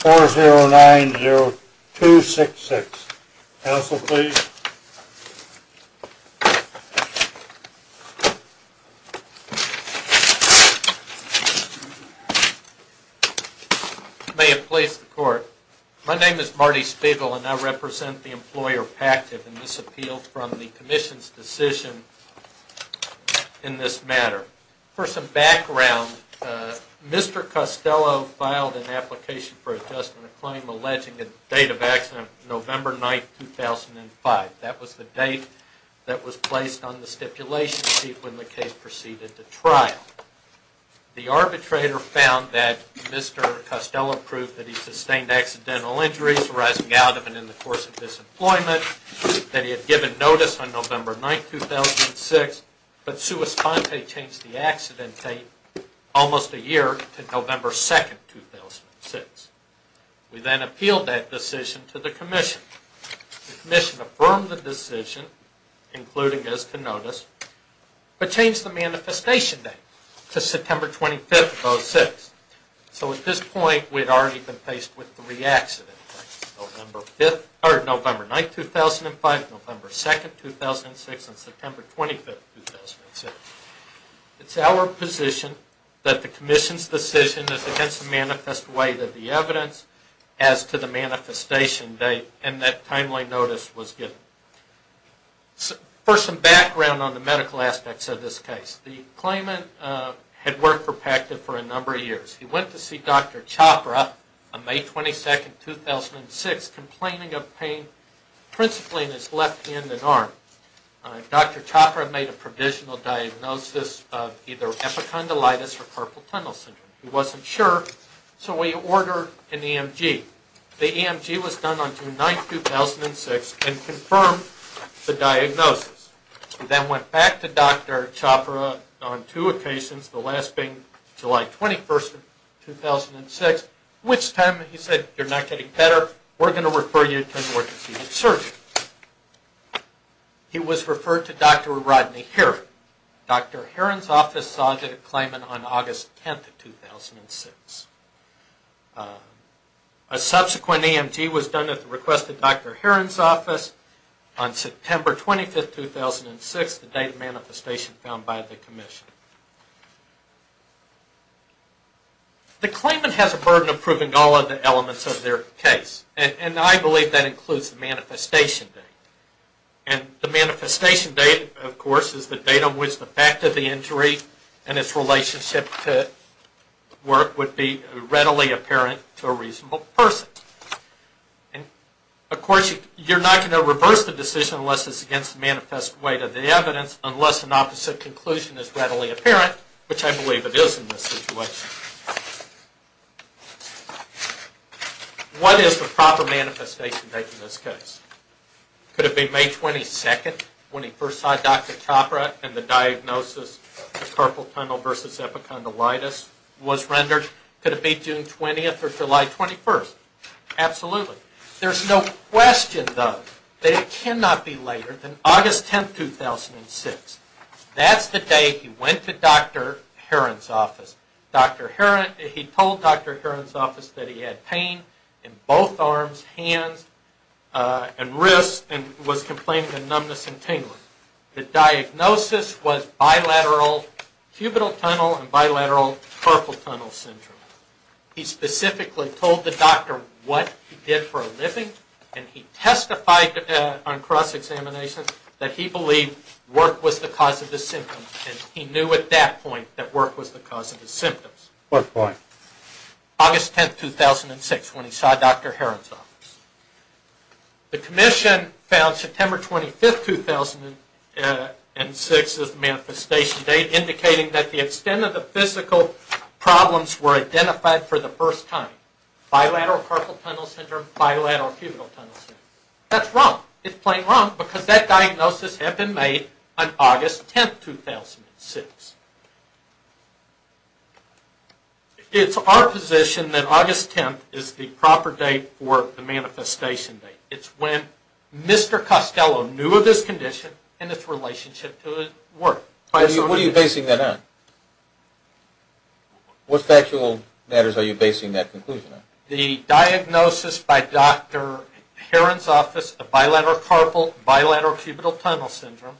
4-0-9-0-2-6-6. Counsel, please. I may have placed the court. My name is Marty Spiegel and I represent the employer PACTIV in this appeal from the Commission's decision in this matter. For some background, Mr. Costello filed an application for adjustment of claim alleging the date of accident November 9, 2005. That was the date that was placed on the stipulation sheet when the case proceeded to trial. The arbitrator found that Mr. Costello proved that he sustained accidental injuries arising out of and in the course of disemployment, that he had given notice on November 9, 2006, but sui sponte changed the accident date almost a year to November 2, 2006. We then appealed that decision to the Commission. The Commission affirmed the decision, including as to notice, but changed the manifestation date to September 25, 2006. So at this point, we'd already been faced with three accident dates, November 9, 2005, November 2, 2006, and September 25, 2006. It's our position that the Commission's decision is against the manifest way that the evidence as to the manifestation date and that timely notice was given. For some background on the medical aspects of this case, the claimant had worked for PECTA for a number of years. He went to see Dr. Chopra on May 22, 2006, complaining of pain principally in his left hand and arm. Dr. Chopra made a provisional diagnosis of either epicondylitis or carpal tunnel syndrome. He wasn't sure, so he ordered an EMG. The EMG was done on June 9, 2006, and confirmed the diagnosis. He then went back to Dr. Chopra on two occasions, the last being July 21, 2006, which time he said, you're not getting better, we're going to refer you to an emergency surgeon. He was referred to Dr. Rodney Heron. Dr. Heron's office saw the claimant on August 10, 2006. A subsequent EMG was done at the request of Dr. Heron's office on September 25, 2006, the date of manifestation found by the Commission. The claimant has a burden of proving all of the elements of their case, and I believe that includes the manifestation data. The manifestation data, of course, is the data on which the fact of the injury and its relationship to work would be readily apparent to a reasonable person. Of course, you're not going to reverse the decision unless it's against the manifest weight of the evidence, unless an opposite conclusion is readily apparent, which I believe it is in this situation. What is the proper manifestation date for this case? Could it be May 22, when he first saw Dr. Chopra and the diagnosis of carpal tunnel versus epicondylitis was rendered? Could it be June 20 or July 21? Absolutely. There's no question, though, that it cannot be later than August 10, 2006. That's the day he went to Dr. Heron's office. He told Dr. Heron's office that he had pain in both arms, hands, and wrists and was complaining of numbness and tingling. The diagnosis was bilateral cubital tunnel and bilateral carpal tunnel syndrome. He specifically told the doctor what he did for a living, and he testified on cross-examination that he believed work was the cause of his symptoms, and he knew at that point that work was the cause of his symptoms. What point? August 10, 2006, when he saw Dr. Heron's office. The Commission found September 25, 2006 as the manifestation date, indicating that the extent of the physical problems were identified for the first time. Bilateral carpal tunnel syndrome, bilateral cubital tunnel syndrome. That's wrong. It's plain wrong because that diagnosis had been made on August 10, 2006. It's our position that August 10 is the proper date for the manifestation date. It's when Mr. Costello knew of his condition and its relationship to work. What are you basing that on? What factual matters are you basing that conclusion on? The diagnosis by Dr. Heron's office of bilateral carpal, bilateral cubital tunnel syndrome,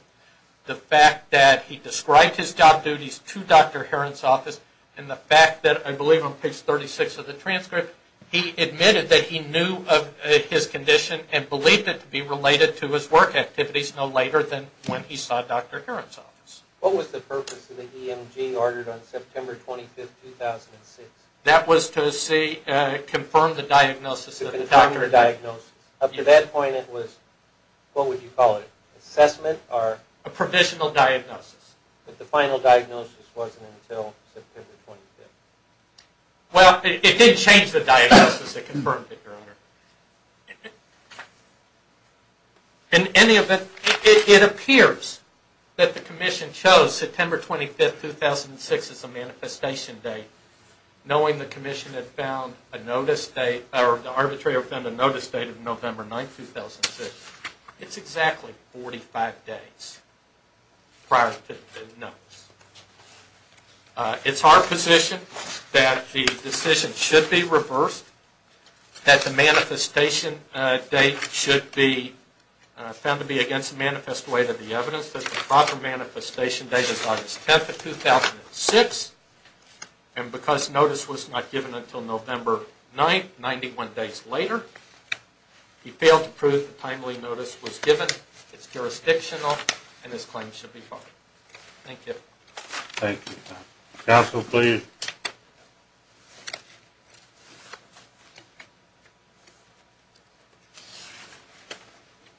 the fact that he described his job duties to Dr. Heron's office, and the fact that I believe on page 36 of the transcript he admitted that he knew of his condition and believed it to be related to his work activities no later than when he saw Dr. Heron's office. What was the purpose of the EMG ordered on September 25, 2006? That was to confirm the diagnosis of the doctor. Up to that point it was, what would you call it, assessment? A provisional diagnosis. But the final diagnosis wasn't until September 25. Well, it did change the diagnosis. It confirmed it, Your Honor. In any event, it appears that the commission chose September 25, 2006 as the manifestation date, knowing the commission had found a notice date, or the arbitrator found a notice date of November 9, 2006. It's exactly 45 days prior to the notice. It's our position that the decision should be reversed, that the manifestation date should be found to be against the manifest weight of the evidence, that the proper manifestation date is August 10, 2006, and because notice was not given until November 9, 91 days later, he failed to prove the timely notice was given, it's jurisdictional, and his claim should be filed. Thank you. Thank you, Your Honor. Counsel, please.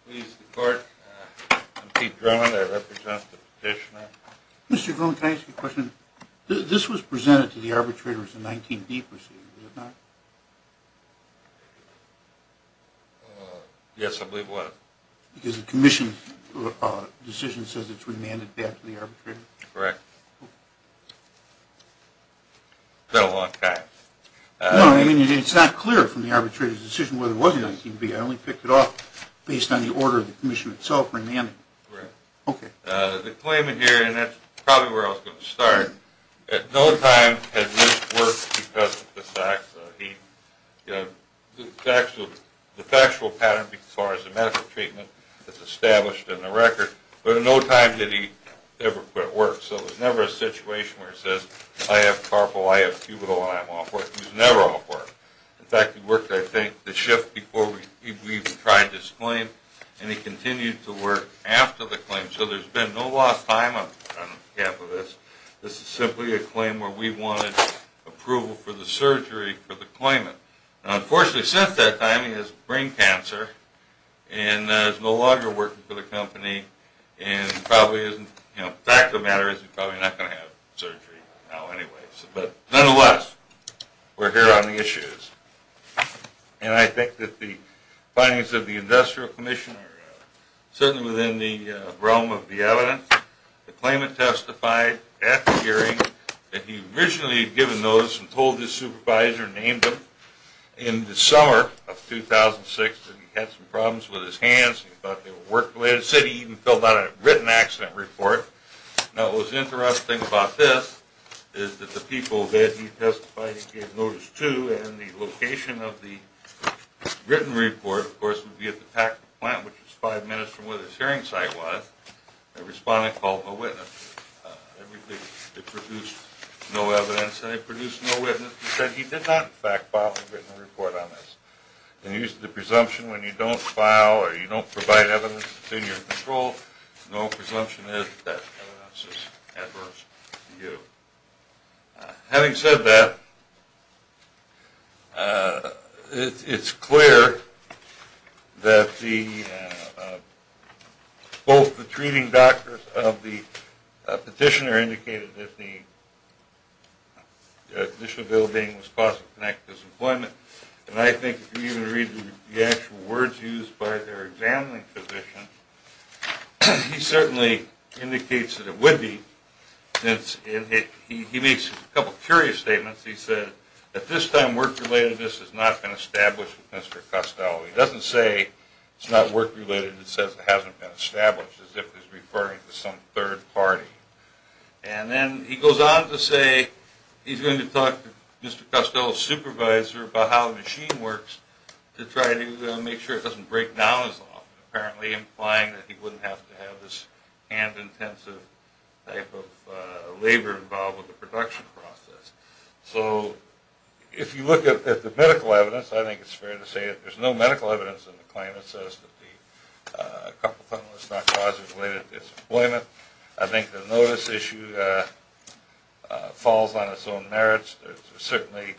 Please, the court. I'm Pete Drummond. I represent the petitioner. Mr. Cohen, can I ask you a question? This was presented to the arbitrator as a 19B proceeding, was it not? Yes, I believe it was. Because the commission decision says it's remanded back to the arbitrator? Correct. It's been a long time. No, I mean, it's not clear from the arbitrator's decision whether it was a 19B. I only picked it off based on the order of the commission itself, remanded. Correct. Okay. The claimant here, and that's probably where I was going to start, at no time had this worked because of the fact that he, the factual pattern as far as the medical treatment that's established in the record, but at no time did he ever put it to work. So there's never a situation where it says, I have carpal, I have cubital, and I'm off work. It was never off work. In fact, it worked, I think, the shift before we even tried this claim, and he continued to work after the claim. So there's been no lost time on behalf of this. This is simply a claim where we wanted approval for the surgery for the claimant. Now, unfortunately, since that time, he has brain cancer and is no longer working for the company and probably isn't, the fact of the matter is he's probably not going to have surgery now anyways. But nonetheless, we're here on the issues. And I think that the findings of the industrial commission are certainly within the realm of the evidence. The claimant testified at the hearing that he originally had given notice and told his supervisor and named him in the summer of 2006 that he had some problems with his hands and he thought they would work the way they did. He said he even filled out a written accident report. Now, what was interesting about this is that the people that he testified and gave notice to and the location of the written report, of course, would be at the Packard plant, which was five minutes from where the hearing site was. The respondent called the witness. They produced no evidence. They produced no witness and said he did not, in fact, file a written report on this. And he used the presumption when you don't file or you don't provide evidence that's in your control, no presumption is that that evidence is adverse to you. Having said that, it's clear that both the treating doctors of the petitioner indicated that the condition of ill-being was caused by connective disemployment. And I think if you even read the actual words used by their examining physician, he certainly indicates that it would be. He makes a couple of curious statements. He said, at this time, work-relatedness has not been established with Mr. Costello. He doesn't say it's not work-related. He says it hasn't been established as if he's referring to some third party. And then he goes on to say he's going to talk to Mr. Costello's supervisor about how the machine works to try to make sure it doesn't break down as often, apparently implying that he wouldn't have to have this hand-intensive type of labor involved with the production process. So if you look at the medical evidence, I think it's fair to say that there's no medical evidence in the claim that says that the carpal tunnel is not causing related disemployment. I think the notice issue falls on its own merits. There's certainly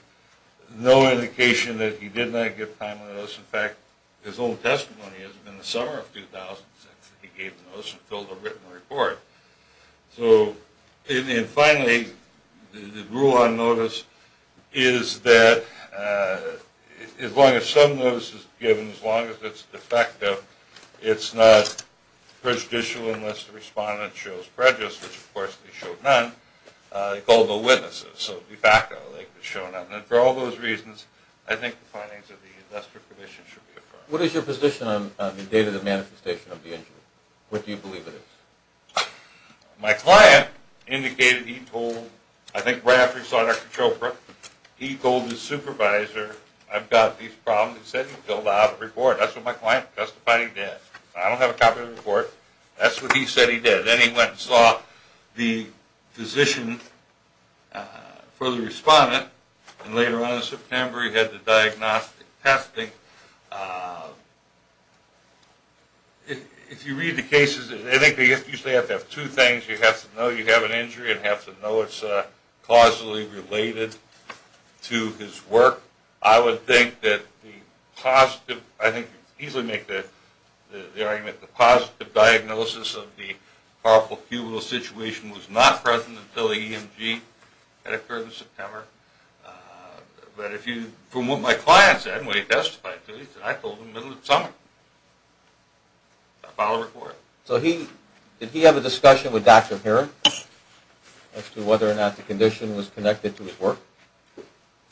no indication that he did not give timely notice. In fact, his own testimony is that in the summer of 2006, he gave the notice and filled a written report. And finally, the rule on notice is that as long as some notice is given, as long as it's defective, it's not prejudicial unless the respondent shows prejudice, which, of course, they showed none. They called no witnesses. So, de facto, they showed none. And for all those reasons, I think the findings of the industrial commission should be affirmed. What is your position on the date of the manifestation of the injury? What do you believe it is? My client indicated he told, I think right after he saw Dr. Chopra, he told his supervisor, I've got these problems, he said he filled out a report. That's what my client testified he did. I don't have a copy of the report. That's what he said he did. But then he went and saw the physician for the respondent, and later on in September he had the diagnostic testing. If you read the cases, I think they usually have to have two things. You have to know you have an injury and have to know it's causally related to his work. I would think that the positive, I think you could easily make the argument the positive diagnosis of the powerful cubital situation was not present until the EMG had occurred in September. But from what my client said, what he testified to, he said I told him in the middle of the summer. I filed a report. So did he have a discussion with Dr. Heron as to whether or not the condition was connected to his work?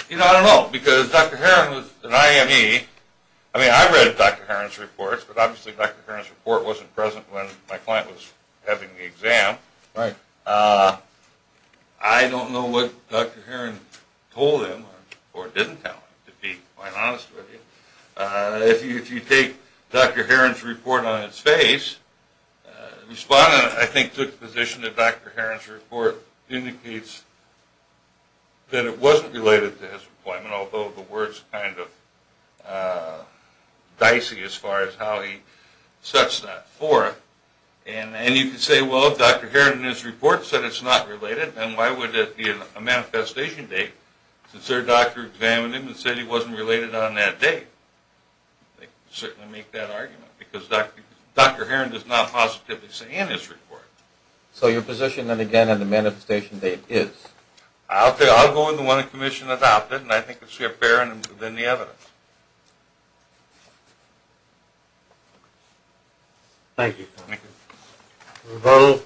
I don't know, because Dr. Heron was an IME. I mean, I read Dr. Heron's reports, but obviously Dr. Heron's report wasn't present when my client was having the exam. I don't know what Dr. Heron told him or didn't tell him, to be quite honest with you. If you take Dr. Heron's report on its face, the respondent, I think, took the position that Dr. Heron's report indicates that it wasn't related to his employment, although the word's kind of dicey as far as how he sets that forth. And you could say, well, if Dr. Heron in his report said it's not related, then why would it be a manifestation date since their doctor examined him and said he wasn't related on that date? They could certainly make that argument, because Dr. Heron does not positively say in his report. So your position, then, again, on the manifestation date is? I'll go with the one the Commission adopted, and I think it's fairer than the evidence. Thank you. Rebuttal.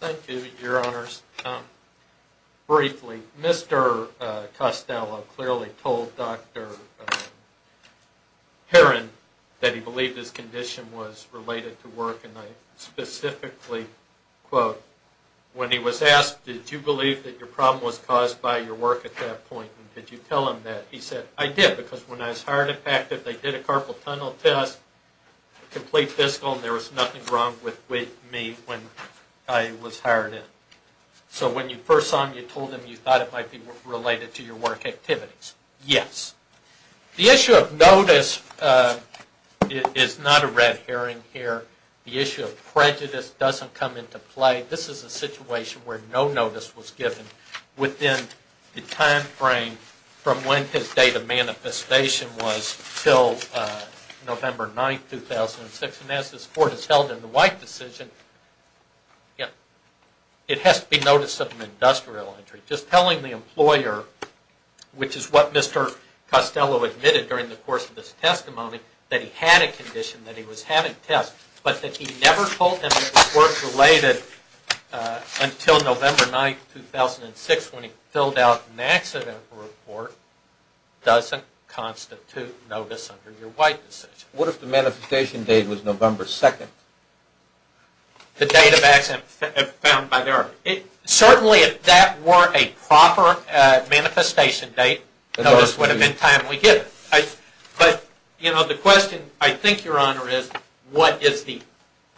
Thank you, Your Honors. Briefly, Mr. Costello clearly told Dr. Heron that he believed his condition was related to work, and I specifically quote, when he was asked, did you believe that your problem was caused by your work at that point? And did you tell him that? He said, I did, because when I was hired, in fact, if they did a carpal tunnel test, complete fiscal, there was nothing wrong with me when I was hired in. So when you first saw him, you told him you thought it might be related to your work activities? Yes. The issue of notice is not a red herring here. The issue of prejudice doesn't come into play. This is a situation where no notice was given within the time frame from when his date of manifestation was until November 9, 2006. And as this Court has held in the White decision, it has to be notice of an industrial injury. Just telling the employer, which is what Mr. Costello admitted during the course of this testimony, that he had a condition, that he was having tests, but that he never told him it was work-related until November 9, 2006, when he filled out an accidental report, doesn't constitute notice under your White decision. What if the manifestation date was November 2nd? The date of accident found by their... Certainly, if that weren't a proper manifestation date, notice would have been timely given. But the question, I think, Your Honor, is what is the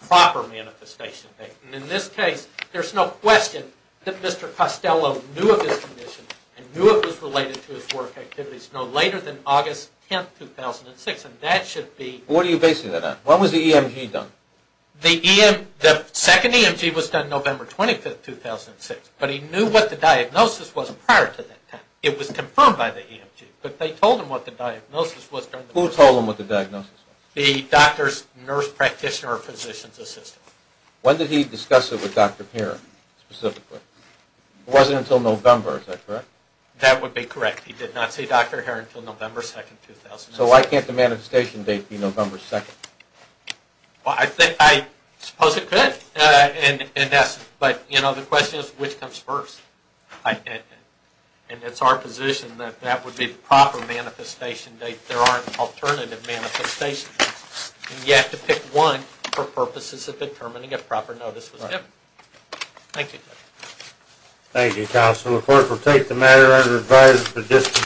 proper manifestation date? And in this case, there's no question that Mr. Costello knew of his condition and knew it was related to his work activities no later than August 10, 2006, and that should be... What are you basing that on? When was the EMG done? The second EMG was done November 25, 2006, but he knew what the diagnosis was prior to that time. It was confirmed by the EMG, but they told him what the diagnosis was. Who told him what the diagnosis was? The doctor's nurse practitioner or physician's assistant. When did he discuss it with Dr. Herron, specifically? It wasn't until November, is that correct? That would be correct. He did not see Dr. Herron until November 2, 2006. So why can't the manifestation date be November 2nd? I suppose it could. But, you know, the question is which comes first. And it's our position that that would be the proper manifestation date. There aren't alternative manifestations. You have to pick one for purposes of determining if proper notice was given. Thank you. Thank you, Counselor. First, we'll take the matter as it arises for discussion.